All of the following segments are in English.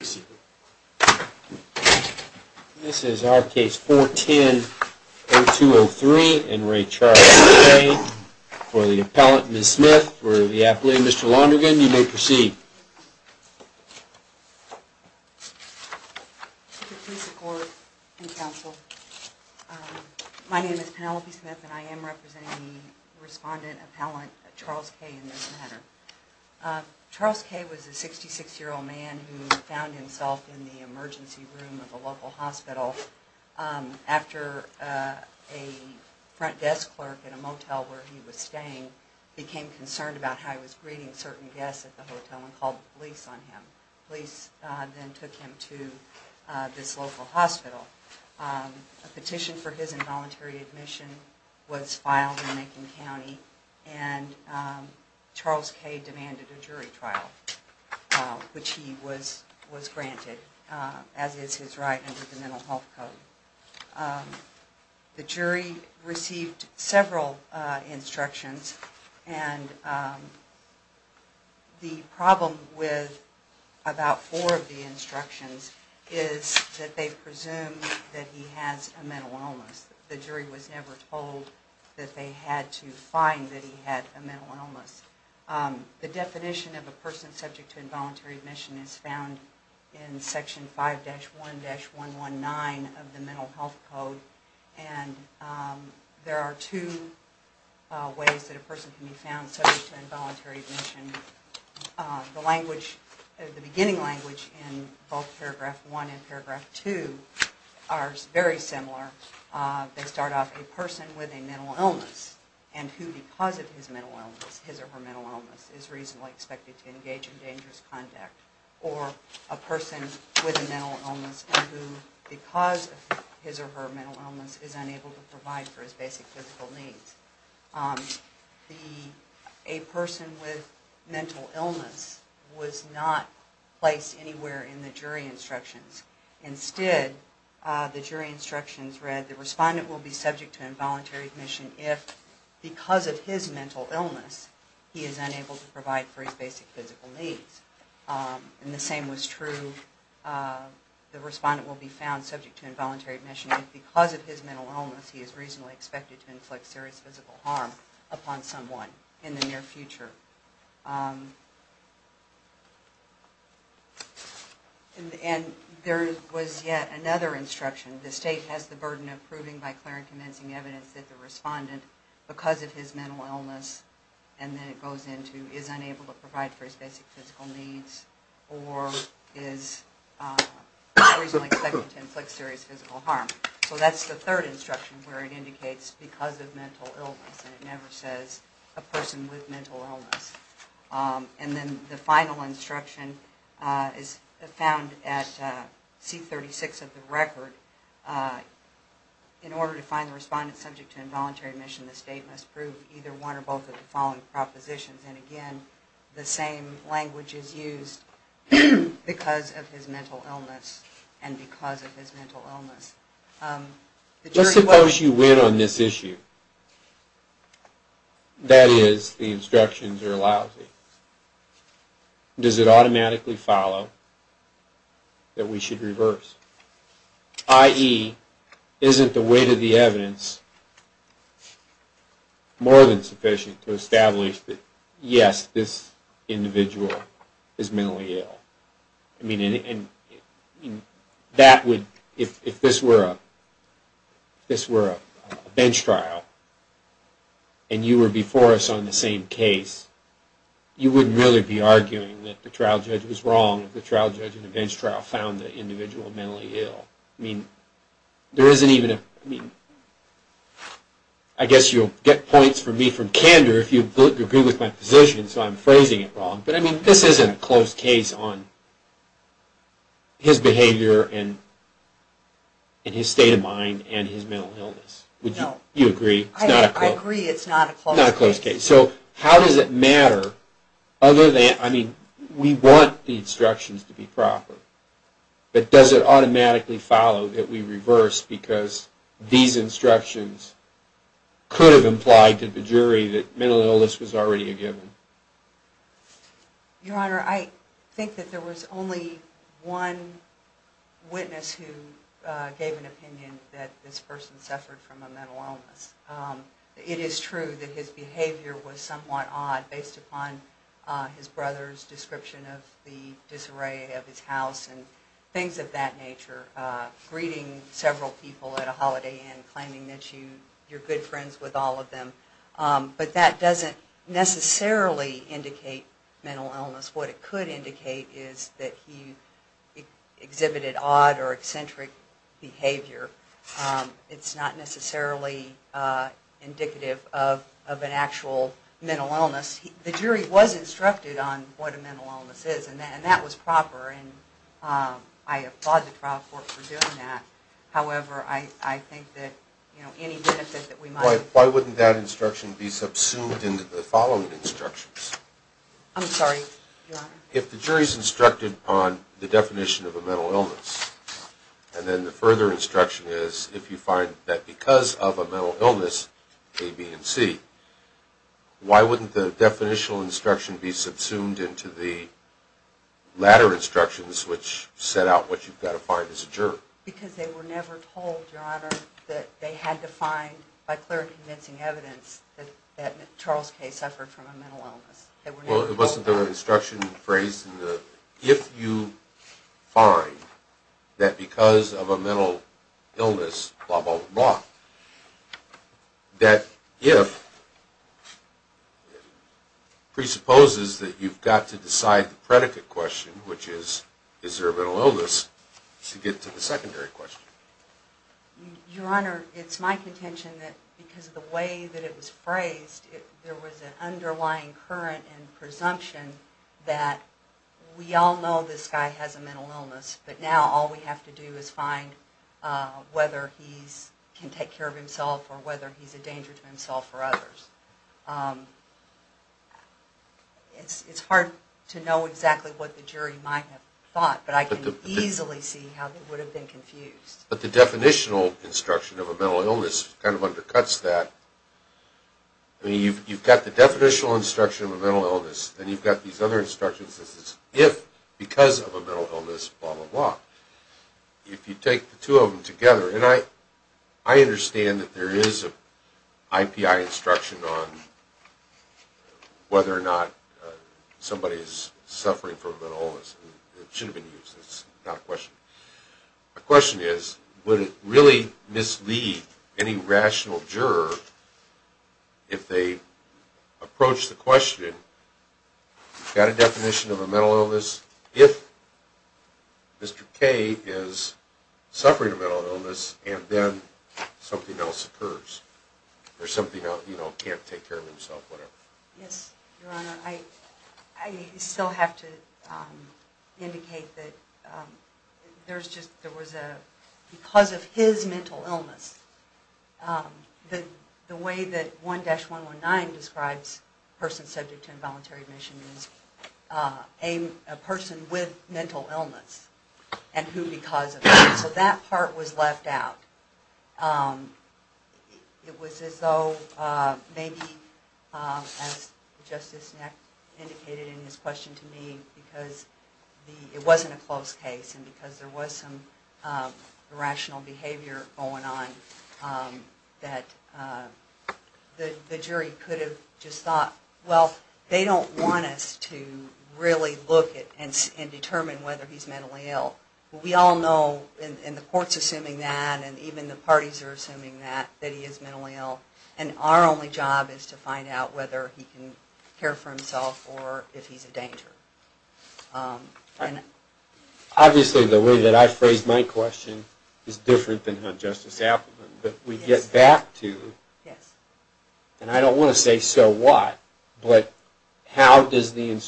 This is our case 410-0203, in re. Charles K. For the appellant, Ms. Smith, for the athlete, Mr. Londrigan, you may proceed. Please support and counsel. My name is Penelope Smith and I am representing the respondent appellant Charles K. in this matter. Charles K. was a 66-year-old man who found himself in the emergency room of a local hospital after a front desk clerk in a motel where he was staying became concerned about how he was greeting certain guests at the hotel and called the police on him. Police then took him to this local hospital. A petition for his involuntary admission was filed in Macon County and Charles K. demanded a jury trial, which he was granted, as is his right under the Mental Health Code. The jury received several instructions and the problem with about four of the instructions is that they presume that he has a mental illness. The jury was never told that they had to find that he had a mental illness. The definition of a person subject to involuntary admission is found in Section 5-1-119 of the Mental Health Code. There are two ways that a person can be found subject to involuntary admission. The beginning language in both Paragraph 1 and Paragraph 2 are very similar. They start off, a person with a mental illness and who, because of his or her mental illness, is reasonably expected to engage in dangerous conduct. Or a person with a mental illness and who, because of his or her mental illness, is unable to provide for his basic physical needs. A person with mental illness was not placed anywhere in the jury instructions. Instead, the jury instructions read, the respondent will be subject to involuntary admission if, because of his mental illness, he is unable to provide for his basic physical needs. And the same was true, the respondent will be found subject to involuntary admission if, because of his mental illness, he is reasonably expected to inflict serious physical harm upon someone in the near future. And there was yet another instruction. The state has the burden of proving by clear and convincing evidence that the respondent, because of his mental illness, and then it goes into, is unable to provide for his basic physical needs or is reasonably expected to inflict serious physical harm. So that's the third instruction where it indicates because of mental illness and it never says a person with mental illness. And then the final instruction is found at C36 of the record. In order to find the respondent subject to involuntary admission, the state must prove either one or both of the following propositions. And again, the same language is used, because of his mental illness and because of his mental illness. Let's suppose you win on this issue. That is, the instructions are lousy. Does it automatically follow that we should reverse? I.e., isn't the weight of the evidence more than sufficient to establish that, yes, this individual is mentally ill? I mean, if this were a bench trial and you were before us on the same case, you wouldn't really be arguing that the trial judge was wrong if the trial judge in the bench trial found the individual mentally ill. I mean, there isn't even a... I guess you'll get points for me from candor if you agree with my position, so I'm phrasing it wrong. But I mean, this isn't a close case on his behavior and his state of mind and his mental illness. No. I agree it's not a close case. It's not a close case. So how does it matter, other than... I mean, we want the instructions to be proper. But does it automatically follow that we reverse because these instructions could have implied to the jury that mental illness was already a given? Your Honor, I think that there was only one witness who gave an opinion that this person suffered from a mental illness. It is true that his behavior was somewhat odd based upon his brother's description of the disarray of his house and things of that nature. Greeting several people at a holiday inn, claiming that you're good friends with all of them. But that doesn't necessarily indicate mental illness. What it could indicate is that he exhibited odd or eccentric behavior. It's not necessarily indicative of an actual mental illness. The jury was instructed on what a mental illness is, and that was proper. And I applaud the trial court for doing that. However, I think that any benefit that we might... Why wouldn't that instruction be subsumed into the following instructions? I'm sorry, Your Honor? If the jury's instructed on the definition of a mental illness, and then the further instruction is, if you find that because of a mental illness, A, B, and C, why wouldn't the definitional instruction be subsumed into the latter instructions, which set out what you've got to find as a juror? Because they were never told, Your Honor, that they had to find, by clear and convincing evidence, that Charles Kay suffered from a mental illness. Well, it wasn't the instruction phrased in the... If you find that because of a mental illness, blah, blah, blah, that if presupposes that you've got to decide the predicate question, which is, is there a mental illness, to get to the secondary question. Your Honor, it's my contention that because of the way that it was phrased, there was an underlying current and presumption that we all know this guy has a mental illness, but now all we have to do is find whether he can take care of himself or whether he's a danger to himself or others. It's hard to know exactly what the jury might have thought, but I can easily see how they would have been confused. But the definitional instruction of a mental illness kind of undercuts that. I mean, you've got the definitional instruction of a mental illness, and you've got these other instructions that says, if because of a mental illness, blah, blah, blah. If you take the two of them together, and I understand that there is an IPI instruction on whether or not somebody is suffering from a mental illness. My question is, would it really mislead any rational juror, if they approach the question, you've got a definition of a mental illness, if Mr. K is suffering a mental illness and then something else occurs, or something else, you know, can't take care of himself, whatever. Yes, Your Honor. I still have to indicate that there was a, because of his mental illness, the way that 1-119 describes a person subject to involuntary admission is a person with mental illness, and who because of that. So that part was left out. It was as though maybe, as Justice Neck indicated in his question to me, because it wasn't a close case, and because there was some irrational behavior going on, that the jury could have just thought, well, they don't want us to really look and determine whether he's mentally ill. We all know, and the court's assuming that, and even the parties are assuming that, that he is mentally ill, and our only job is to find out whether he can care for himself or if he's a danger. Obviously the way that I phrased my question is different than Justice Appleton, but we get back to, and I don't want to say so what, but how does the,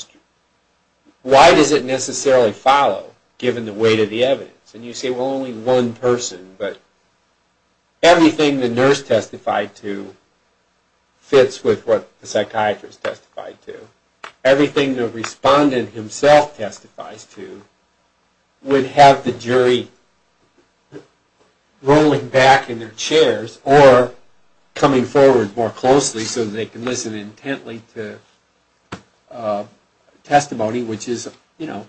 why does it necessarily follow, given the weight of the evidence? And you say, well, only one person, but everything the nurse testified to fits with what the psychiatrist testified to. Everything the respondent himself testifies to would have the jury rolling back in their chairs or coming forward more closely so they can listen intently to testimony which is, you know,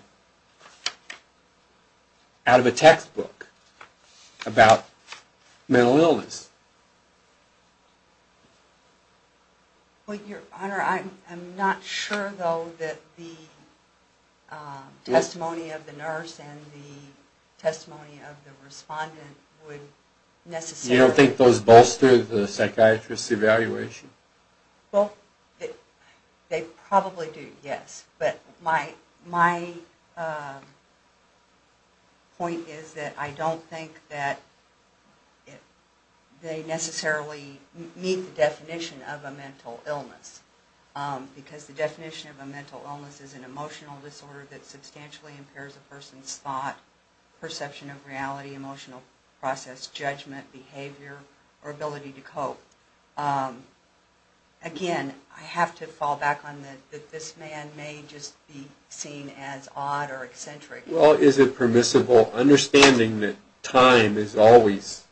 out of a textbook about mental illness. Well, Your Honor, I'm not sure, though, that the testimony of the nurse and the testimony of the respondent would necessarily... You don't think those bolster the psychiatrist's evaluation? Well, they probably do, yes. But my point is that I don't think that they necessarily meet the definition of a mental illness because the definition of a mental illness is an emotional disorder that substantially impairs a person's thought, perception of reality, emotional process, judgment, behavior, or ability to cope. Again, I have to fall back on that this man may just be seen as odd or eccentric. Well, is it permissible, understanding that time is always,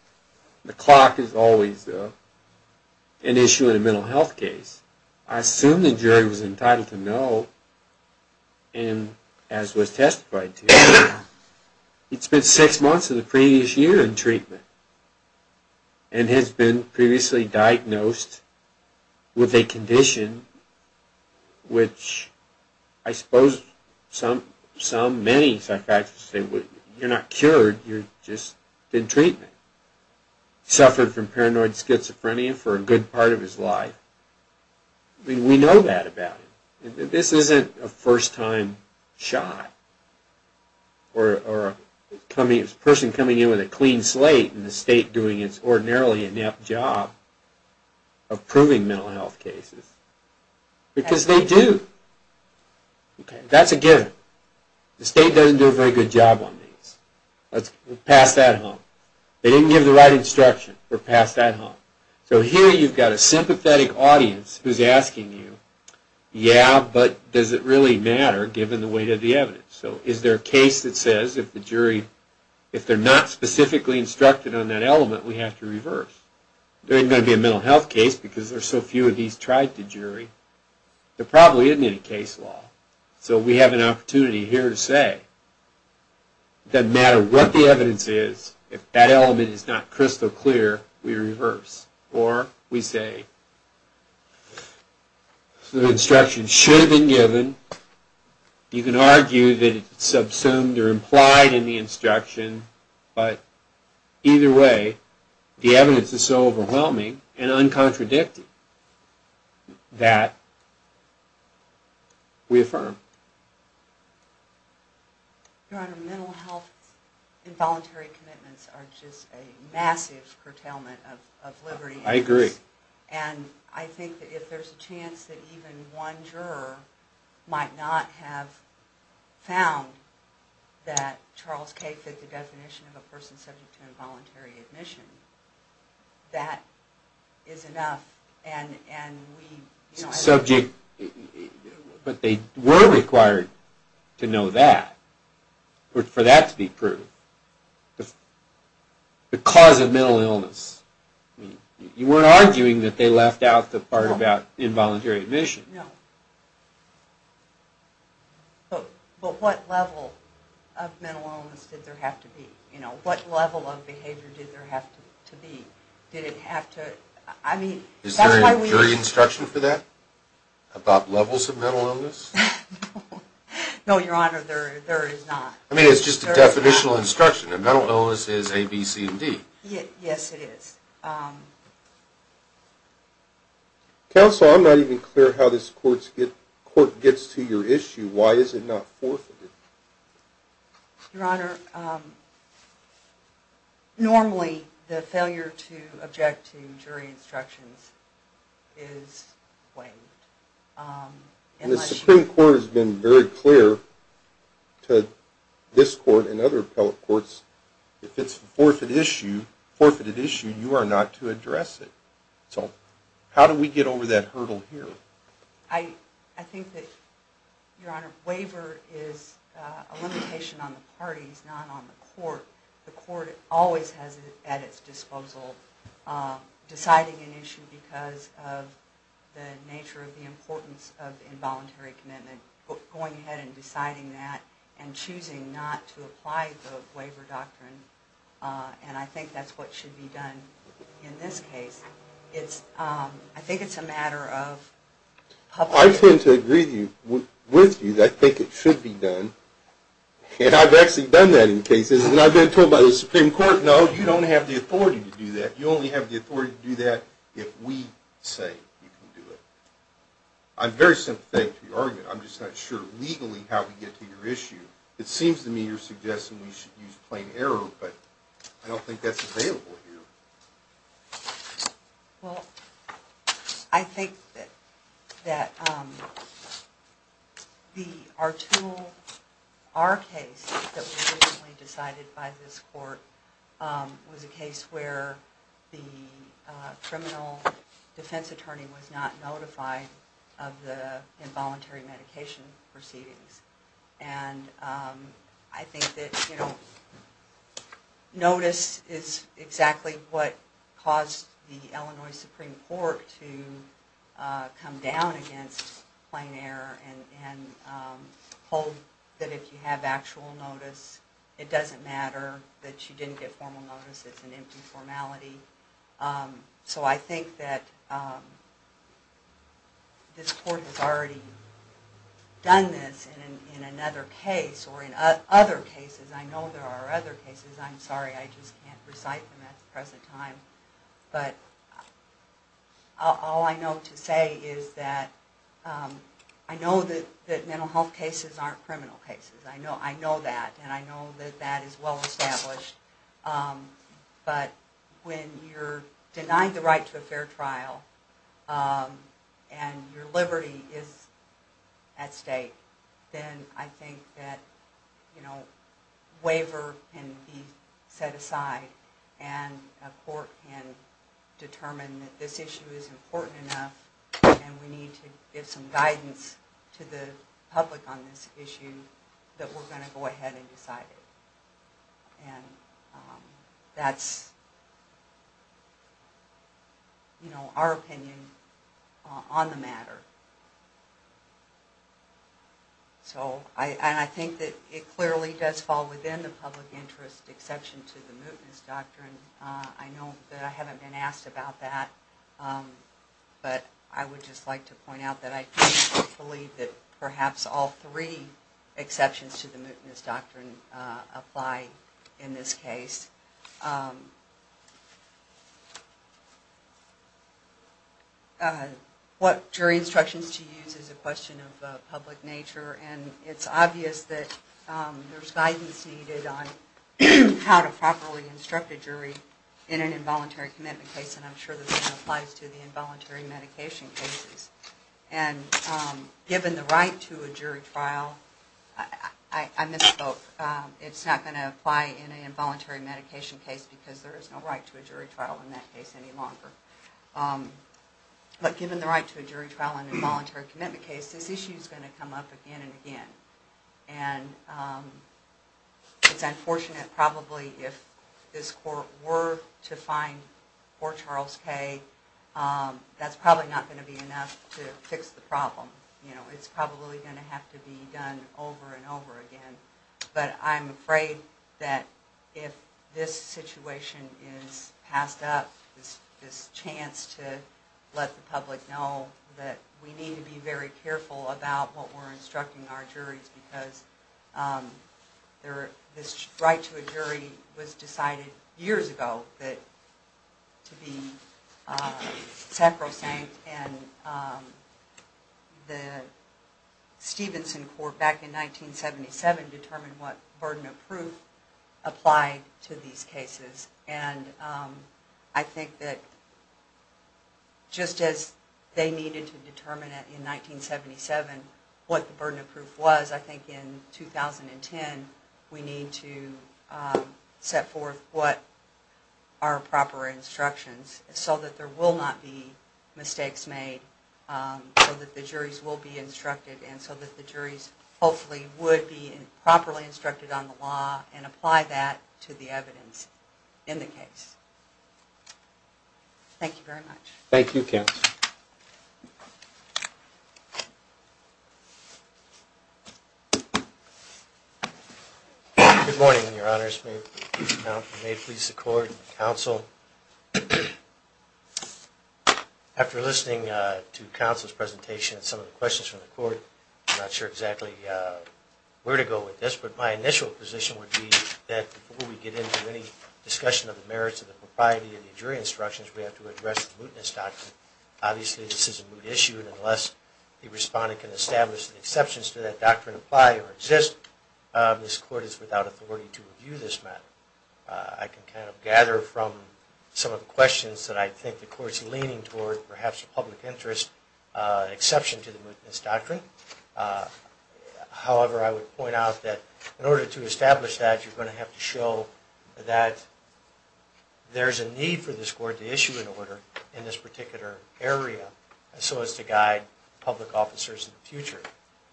the clock is always an issue in a mental health case. I assume the jury was entitled to know, and as was testified to, he'd spent six months of the previous year in treatment and has been previously diagnosed with a condition which I suppose some, many psychiatrists say, you're not cured, you're just in treatment. Suffered from paranoid schizophrenia for a good part of his life. I mean, we know that about him. This isn't a first-time shot or a person coming in with a clean slate and the state doing its ordinarily inept job of proving mental health cases. Because they do. That's a given. The state doesn't do a very good job on these. Let's pass that home. They didn't give the right instruction. We're past that home. So here you've got a sympathetic audience who's asking you, yeah, but does it really matter given the weight of the evidence? So is there a case that says if the jury, if they're not specifically instructed on that element, we have to reverse? There isn't going to be a mental health case because there are so few of these tried to jury. There probably isn't any case law. So we have an opportunity here to say it doesn't matter what the evidence is, if that element is not crystal clear, we reverse. Or we say the instruction should have been given. You can argue that it's subsumed or implied in the instruction. But either way, the evidence is so overwhelming and uncontradicted that we affirm. Your Honor, mental health involuntary commitments are just a massive curtailment of liberty. I agree. And I think that if there's a chance that even one juror might not have found that Charles K. fit the definition of a person subject to involuntary admission, that is enough. Subject. But they were required to know that for that to be proved. The cause of mental illness. You weren't arguing that they left out the part about involuntary admission. No. But what level of mental illness did there have to be? What level of behavior did there have to be? Is there a jury instruction for that? About levels of mental illness? No, Your Honor, there is not. I mean, it's just a definitional instruction. A mental illness is A, B, C, and D. Yes, it is. Counsel, I'm not even clear how this court gets to your issue. Why is it not forfeited? Your Honor, normally the failure to object to jury instructions is waived. And the Supreme Court has been very clear to this court and other appellate courts, if it's a forfeited issue, you are not to address it. So how do we get over that hurdle here? I think that, Your Honor, waiver is a limitation on the parties, not on the court. The court always has it at its disposal. Deciding an issue because of the nature of the importance of involuntary commitment, going ahead and deciding that and choosing not to apply the waiver doctrine, and I think that's what should be done in this case. I think it's a matter of public opinion. I tend to agree with you that I think it should be done. And I've actually done that in cases. And I've been told by the Supreme Court, no, you don't have the authority to do that. You only have the authority to do that if we say you can do it. I'm very sympathetic to your argument. I'm just not sure, legally, how we get to your issue. It seems to me you're suggesting we should use plain error, but I don't think that's available here. Well, I think that our case that was originally decided by this court was a case where the criminal defense attorney was not notified of the involuntary medication proceedings. And I think that notice is exactly what caused the Illinois Supreme Court to come down against plain error and hold that if you have actual notice, it doesn't matter that you didn't get formal notice. It's an empty formality. So I think that this court has already done this in another case or in other cases. I know there are other cases. I'm sorry, I just can't recite them at the present time. But all I know to say is that I know that mental health cases aren't criminal cases. I know that. And I know that that is well established. But when you're denying the right to a fair trial and your liberty is at stake, then I think that waiver can be set aside and a court can determine that this issue is important enough and we need to give some guidance to the public on this issue, that we're going to go ahead and decide it. And that's, you know, our opinion on the matter. So I think that it clearly does fall within the public interest exception to the mootness doctrine. I know that I haven't been asked about that, but I would just like to point out that I believe that perhaps all three exceptions to the mootness doctrine apply in this case. What jury instructions to use is a question of public nature, and it's obvious that there's guidance needed on how to properly instruct a jury in an involuntary commitment case, and I'm sure this applies to the involuntary medication cases. And given the right to a jury trial, I misspoke. It's not going to apply in an involuntary medication case because there is no right to a jury trial in that case any longer. But given the right to a jury trial in an involuntary commitment case, this issue is going to come up again and again. And it's unfortunate probably if this court were to find poor Charles Kay, that's probably not going to be enough to fix the problem. It's probably going to have to be done over and over again. But I'm afraid that if this situation is passed up, this chance to let the public know that we need to be very careful about what we're instructing our juries because this right to a jury was decided years ago to be sacrosanct. And the Stevenson Court back in 1977 determined what burden of proof applied to these cases. And I think that just as they needed to determine in 1977 what the burden of proof was, I think in 2010 we need to set forth what are proper instructions so that there will not be mistakes made, so that the juries will be instructed, and so that the juries hopefully would be properly instructed on the law and apply that to the evidence in the case. Thank you very much. Thank you, Counsel. Good morning, Your Honors. May it please the Court and the Counsel. After listening to Counsel's presentation and some of the questions from the Court, I'm not sure exactly where to go with this, but my initial position would be that before we get into any discussion of the merits of the propriety of the jury instructions, we have to address the mootness doctrine. Obviously, this is a moot issue, and unless the respondent can establish the exceptions to that doctrine apply or exist, this Court is without authority to review this matter. I can kind of gather from some of the questions that I think the Court is leaning toward, perhaps a public interest exception to the mootness doctrine. However, I would point out that in order to establish that, you're going to have to show that there is a need for this Court to issue an order in this particular area so as to guide public officers in the future.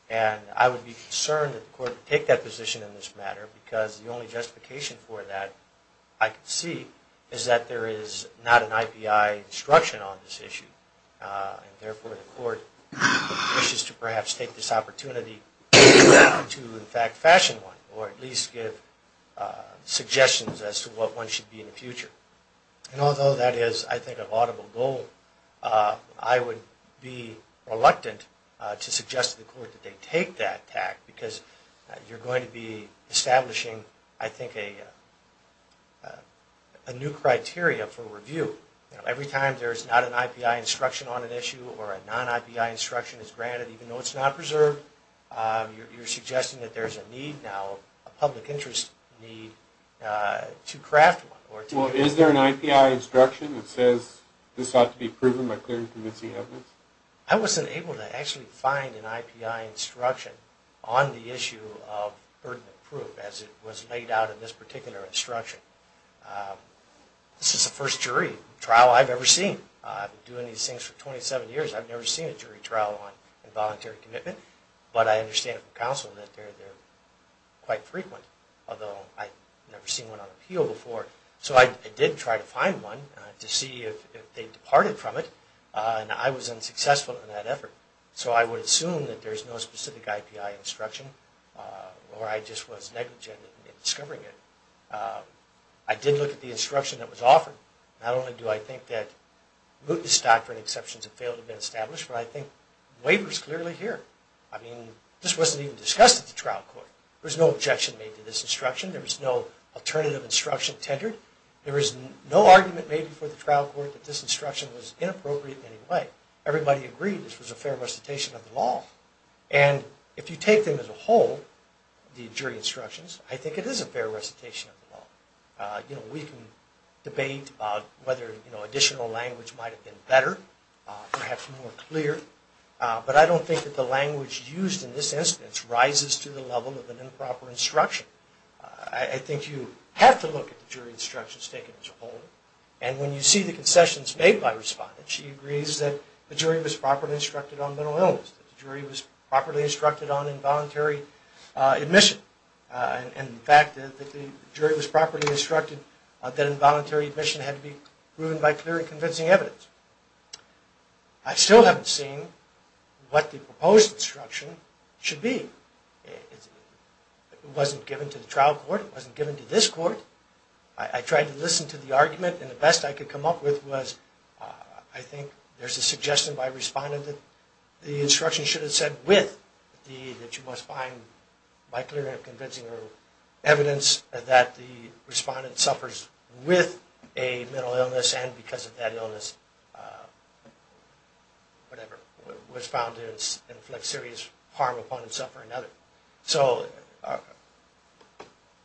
And I would be concerned that the Court would take that position in this matter, because the only justification for that I can see is that there is not an IPI instruction on this issue, and therefore the Court wishes to perhaps take this opportunity to, in fact, fashion one, or at least give suggestions as to what one should be in the future. And although that is, I think, a laudable goal, I would be reluctant to suggest to the Court that they take that tact, because you're going to be establishing, I think, a new criteria for review. Every time there's not an IPI instruction on an issue or a non-IPI instruction is granted, even though it's not preserved, you're suggesting that there's a need now, a public interest need, to craft one. Well, is there an IPI instruction that says this ought to be proven by clear and convincing evidence? I wasn't able to actually find an IPI instruction on the issue of burden of proof as it was laid out in this particular instruction. This is the first jury trial I've ever seen. I've been doing these things for 27 years. I've never seen a jury trial on involuntary commitment, but I understand from counsel that they're quite frequent, although I've never seen one on appeal before. So I did try to find one to see if they departed from it, and I was unsuccessful in that effort. So I would assume that there's no specific IPI instruction, or I just was negligent in discovering it. I did look at the instruction that was offered. Not only do I think that mootness doctrine exceptions have failed to be established, but I think the waiver is clearly here. I mean, this wasn't even discussed at the trial court. There was no objection made to this instruction. There was no alternative instruction tendered. There was no argument made before the trial court that this instruction was inappropriate in any way. Everybody agreed this was a fair recitation of the law. And if you take them as a whole, the jury instructions, I think it is a fair recitation of the law. You know, we can debate about whether additional language might have been better, perhaps more clear, but I don't think that the language used in this instance rises to the level of an improper instruction. I think you have to look at the jury instructions taken as a whole, and when you see the concessions made by respondents, she agrees that the jury was properly instructed on mental illness, that the jury was properly instructed on involuntary admission, and in fact that the jury was properly instructed that involuntary admission had to be proven by clear and convincing evidence. I still haven't seen what the proposed instruction should be. It wasn't given to the trial court. It wasn't given to this court. I tried to listen to the argument, and the best I could come up with was, I think there's a suggestion by a respondent that the instruction should have said with, that you must find by clear and convincing evidence that the respondent suffers with a mental illness and because of that illness, whatever, was found to inflict serious harm upon himself or another. So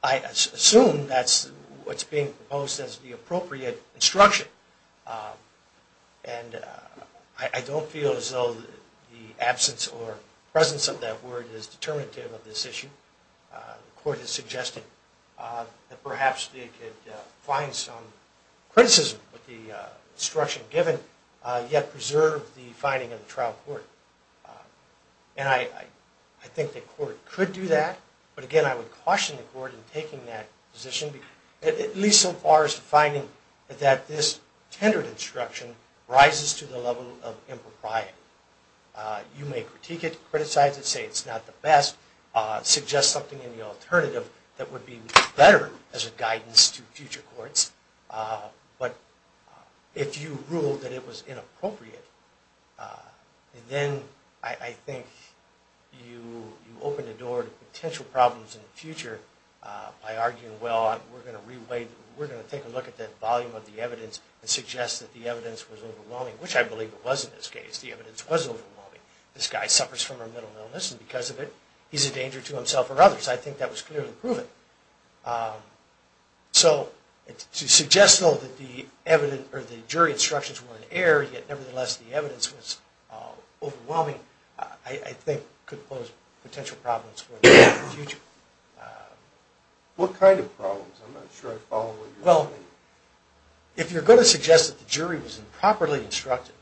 I assume that's what's being proposed as the appropriate instruction, and I don't feel as though the absence or presence of that word is determinative of this issue. The court has suggested that perhaps they could find some criticism with the instruction given, yet preserve the finding of the trial court, and I think the court could do that, but again I would caution the court in taking that position, at least so far as to finding that this tendered instruction rises to the level of impropriety. You may critique it, criticize it, say it's not the best, suggest something in the alternative that would be better as a guidance to future courts, but if you ruled that it was inappropriate, then I think you open the door to potential problems in the future by arguing, well, we're going to take a look at that volume of the evidence and suggest that the evidence was overwhelming, which I believe it was in this case, the evidence was overwhelming. This guy suffers from a mental illness and because of it he's a danger to himself or others. I think that was clearly proven. So to suggest though that the jury instructions were in error, yet nevertheless the evidence was overwhelming, I think could pose potential problems for the future. What kind of problems? I'm not sure I follow what you're saying. Well, if you're going to suggest that the jury was improperly instructed,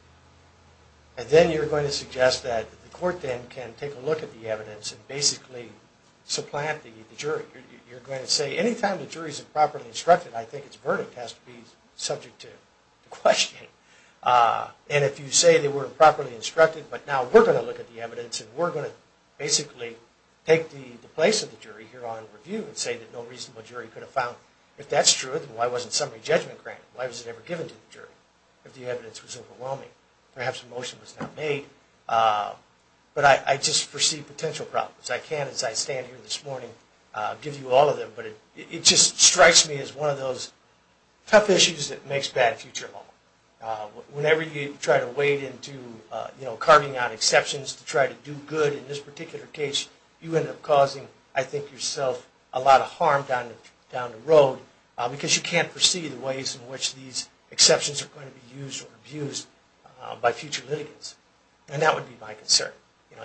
and then you're going to suggest that the court then can take a look at the evidence and basically supplant the jury, you're going to say any time the jury is improperly instructed, I think its verdict has to be subject to questioning. And if you say they were improperly instructed, but now we're going to look at the evidence and we're going to basically take the place of the jury here on review and say that no reasonable jury could have found if that's true, then why wasn't summary judgment granted? Why was it ever given to the jury if the evidence was overwhelming? Perhaps a motion was not made. But I just foresee potential problems. I can't, as I stand here this morning, give you all of them, but it just strikes me as one of those tough issues that makes bad future law. Whenever you try to wade into carving out exceptions to try to do good in this particular case, you end up causing, I think, yourself a lot of harm down the road because you can't foresee the ways in which these exceptions are going to be used or abused by future litigants. And that would be my concern.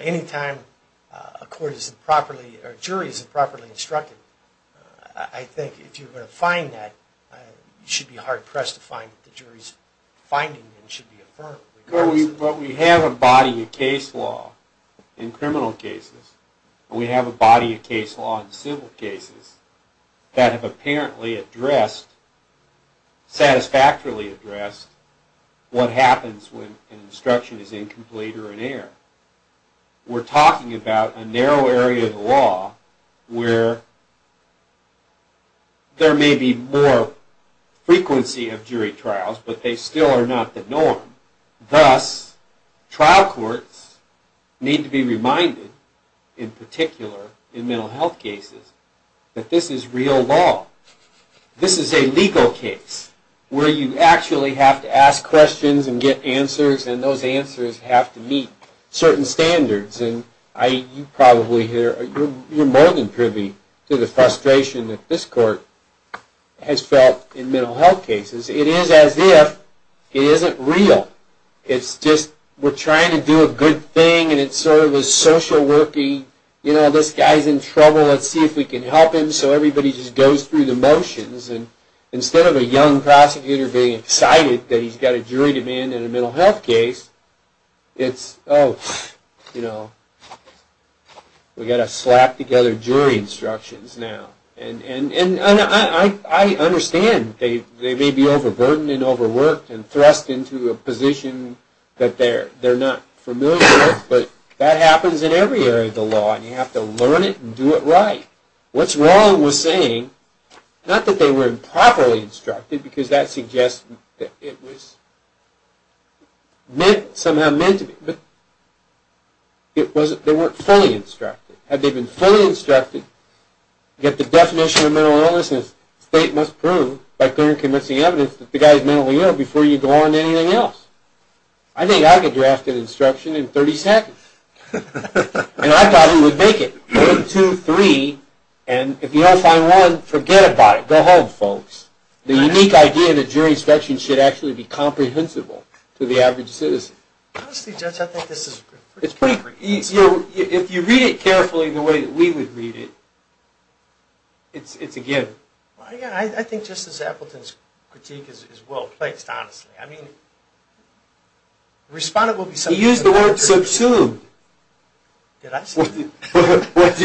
Any time a jury is improperly instructed, I think if you're going to find that, you should be hard-pressed to find that the jury's finding should be affirmed. But we have a body of case law in criminal cases and we have a body of case law in civil cases that have apparently addressed, satisfactorily addressed, what happens when an instruction is incomplete or in error. We're talking about a narrow area of the law where there may be more frequency of jury trials, but they still are not the norm. Thus, trial courts need to be reminded, in particular in mental health cases, that this is real law. This is a legal case where you actually have to ask questions and get answers and those answers have to meet certain standards. And you're more than privy to the frustration that this court has felt in mental health cases. It is as if it isn't real. It's just, we're trying to do a good thing and it's sort of a social working, you know, this guy's in trouble, let's see if we can help him, so everybody just goes through the motions. Instead of a young prosecutor being excited that he's got a jury demand in a mental health case, it's, oh, you know, we've got to slap together jury instructions now. And I understand they may be overburdened and overworked and thrust into a position that they're not familiar with, but that happens in every area of the law and you have to learn it and do it right. What's wrong with saying, not that they weren't properly instructed, because that suggests that it was somehow meant to be, but they weren't fully instructed. Had they been fully instructed to get the definition of mental illness, the state must prove, by clear and convincing evidence, that the guy's mentally ill before you go on to anything else. I think I could draft an instruction in 30 seconds. And I thought we would make it. One, two, three, and if you don't find one, forget about it. Go home, folks. The unique idea that jury instructions should actually be comprehensible to the average citizen. Honestly, Judge, I think this is pretty great. If you read it carefully the way that we would read it, it's a give. I think Justice Appleton's critique is well placed, honestly. I mean, the respondent will be something of an expert. He used the word subsumed. Did I say that?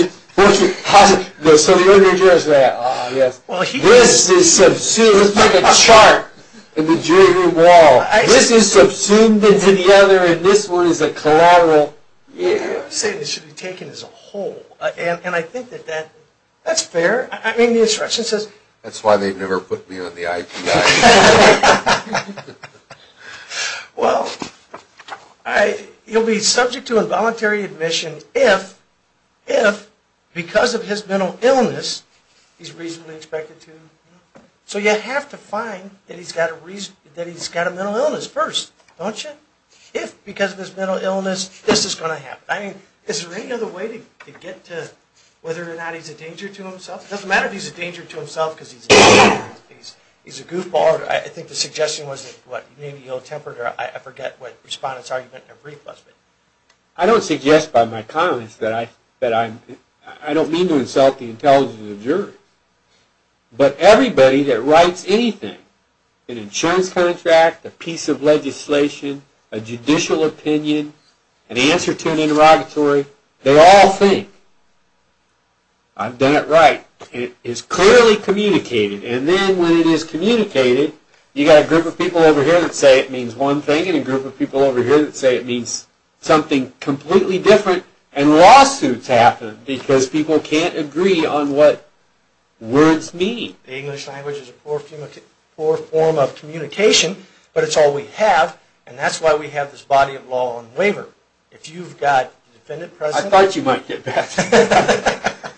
So the other juror said, ah, yes. This is subsumed. It's like a chart in the jury room wall. This is subsumed into the other, and this one is a collateral. I'm saying it should be taken as a whole. And I think that that's fair. I mean, the instruction says... That's why they never put me on the IPI. Well, he'll be subject to involuntary admission if, because of his mental illness, he's reasonably expected to... So you have to find that he's got a mental illness first, don't you? If, because of his mental illness, this is going to happen. I mean, is there any other way to get to whether or not he's a danger to himself? It doesn't matter if he's a danger to himself because he's a goofball. I think the suggestion was that, what, maybe ill-tempered, or I forget what respondent's argument in their brief was. I don't suggest by my comments that I'm... I don't mean to insult the intelligence of the jurors. But everybody that writes anything, an insurance contract, a piece of legislation, a judicial opinion, an answer to an interrogatory, they all think, I've done it right. It's clearly communicated. And then when it is communicated, you've got a group of people over here that say it means one thing, and a group of people over here that say it means something completely different. And lawsuits happen because people can't agree on what words mean. The English language is a poor form of communication, but it's all we have, and that's why we have this body of law on waiver. If you've got a defendant present... I thought you might get that.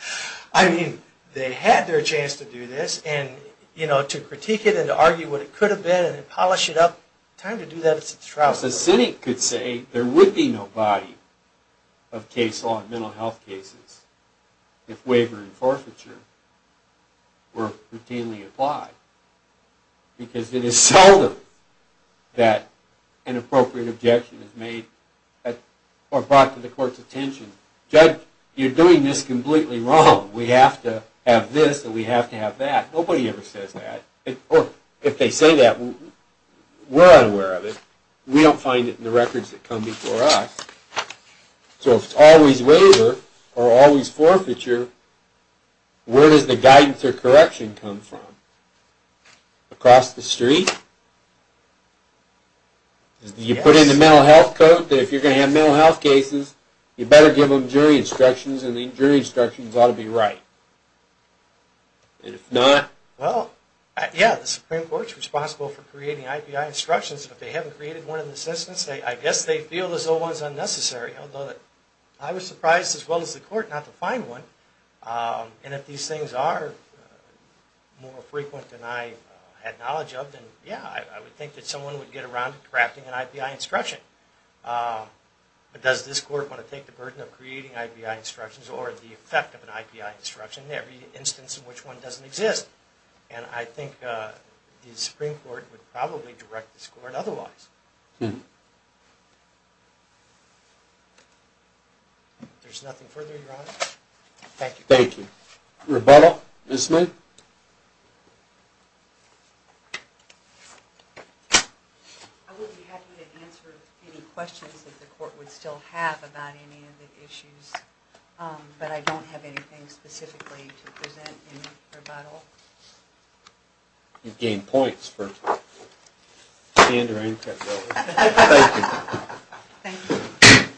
I mean, they had their chance to do this, and, you know, to critique it and to argue what it could have been, and polish it up, time to do that, it's a trial. Of course, a cynic could say there would be no body of case law in mental health cases if waiver and forfeiture were routinely applied, because it is seldom that an appropriate objection is made or brought to the court's attention. Judge, you're doing this completely wrong. We have to have this, and we have to have that. Nobody ever says that. Or, if they say that, we're unaware of it. We don't find it in the records that come before us. So if it's always waiver or always forfeiture, where does the guidance or correction come from? Across the street? Do you put in the mental health code that if you're going to have mental health cases, you better give them jury instructions, and the jury instructions ought to be right? And if not? Well, yeah, the Supreme Court's responsible for creating IPI instructions, and if they haven't created one in the system, I guess they feel as though one's unnecessary, although I was surprised as well as the court not to find one. And if these things are more frequent than I had knowledge of, then, yeah, I would think that someone would get around to crafting an IPI instruction. But does this court want to take the burden of creating IPI instructions or the effect of an IPI instruction in every instance in which one doesn't exist? And I think the Supreme Court would probably direct this court otherwise. If there's nothing further, Your Honor. Thank you. Thank you. Rebuttal? Ms. Smith? Thank you. I would be happy to answer any questions that the court would still have about any of the issues, but I don't have anything specifically to present in rebuttal. You've gained points for stand or answer. Thank you. Thank you.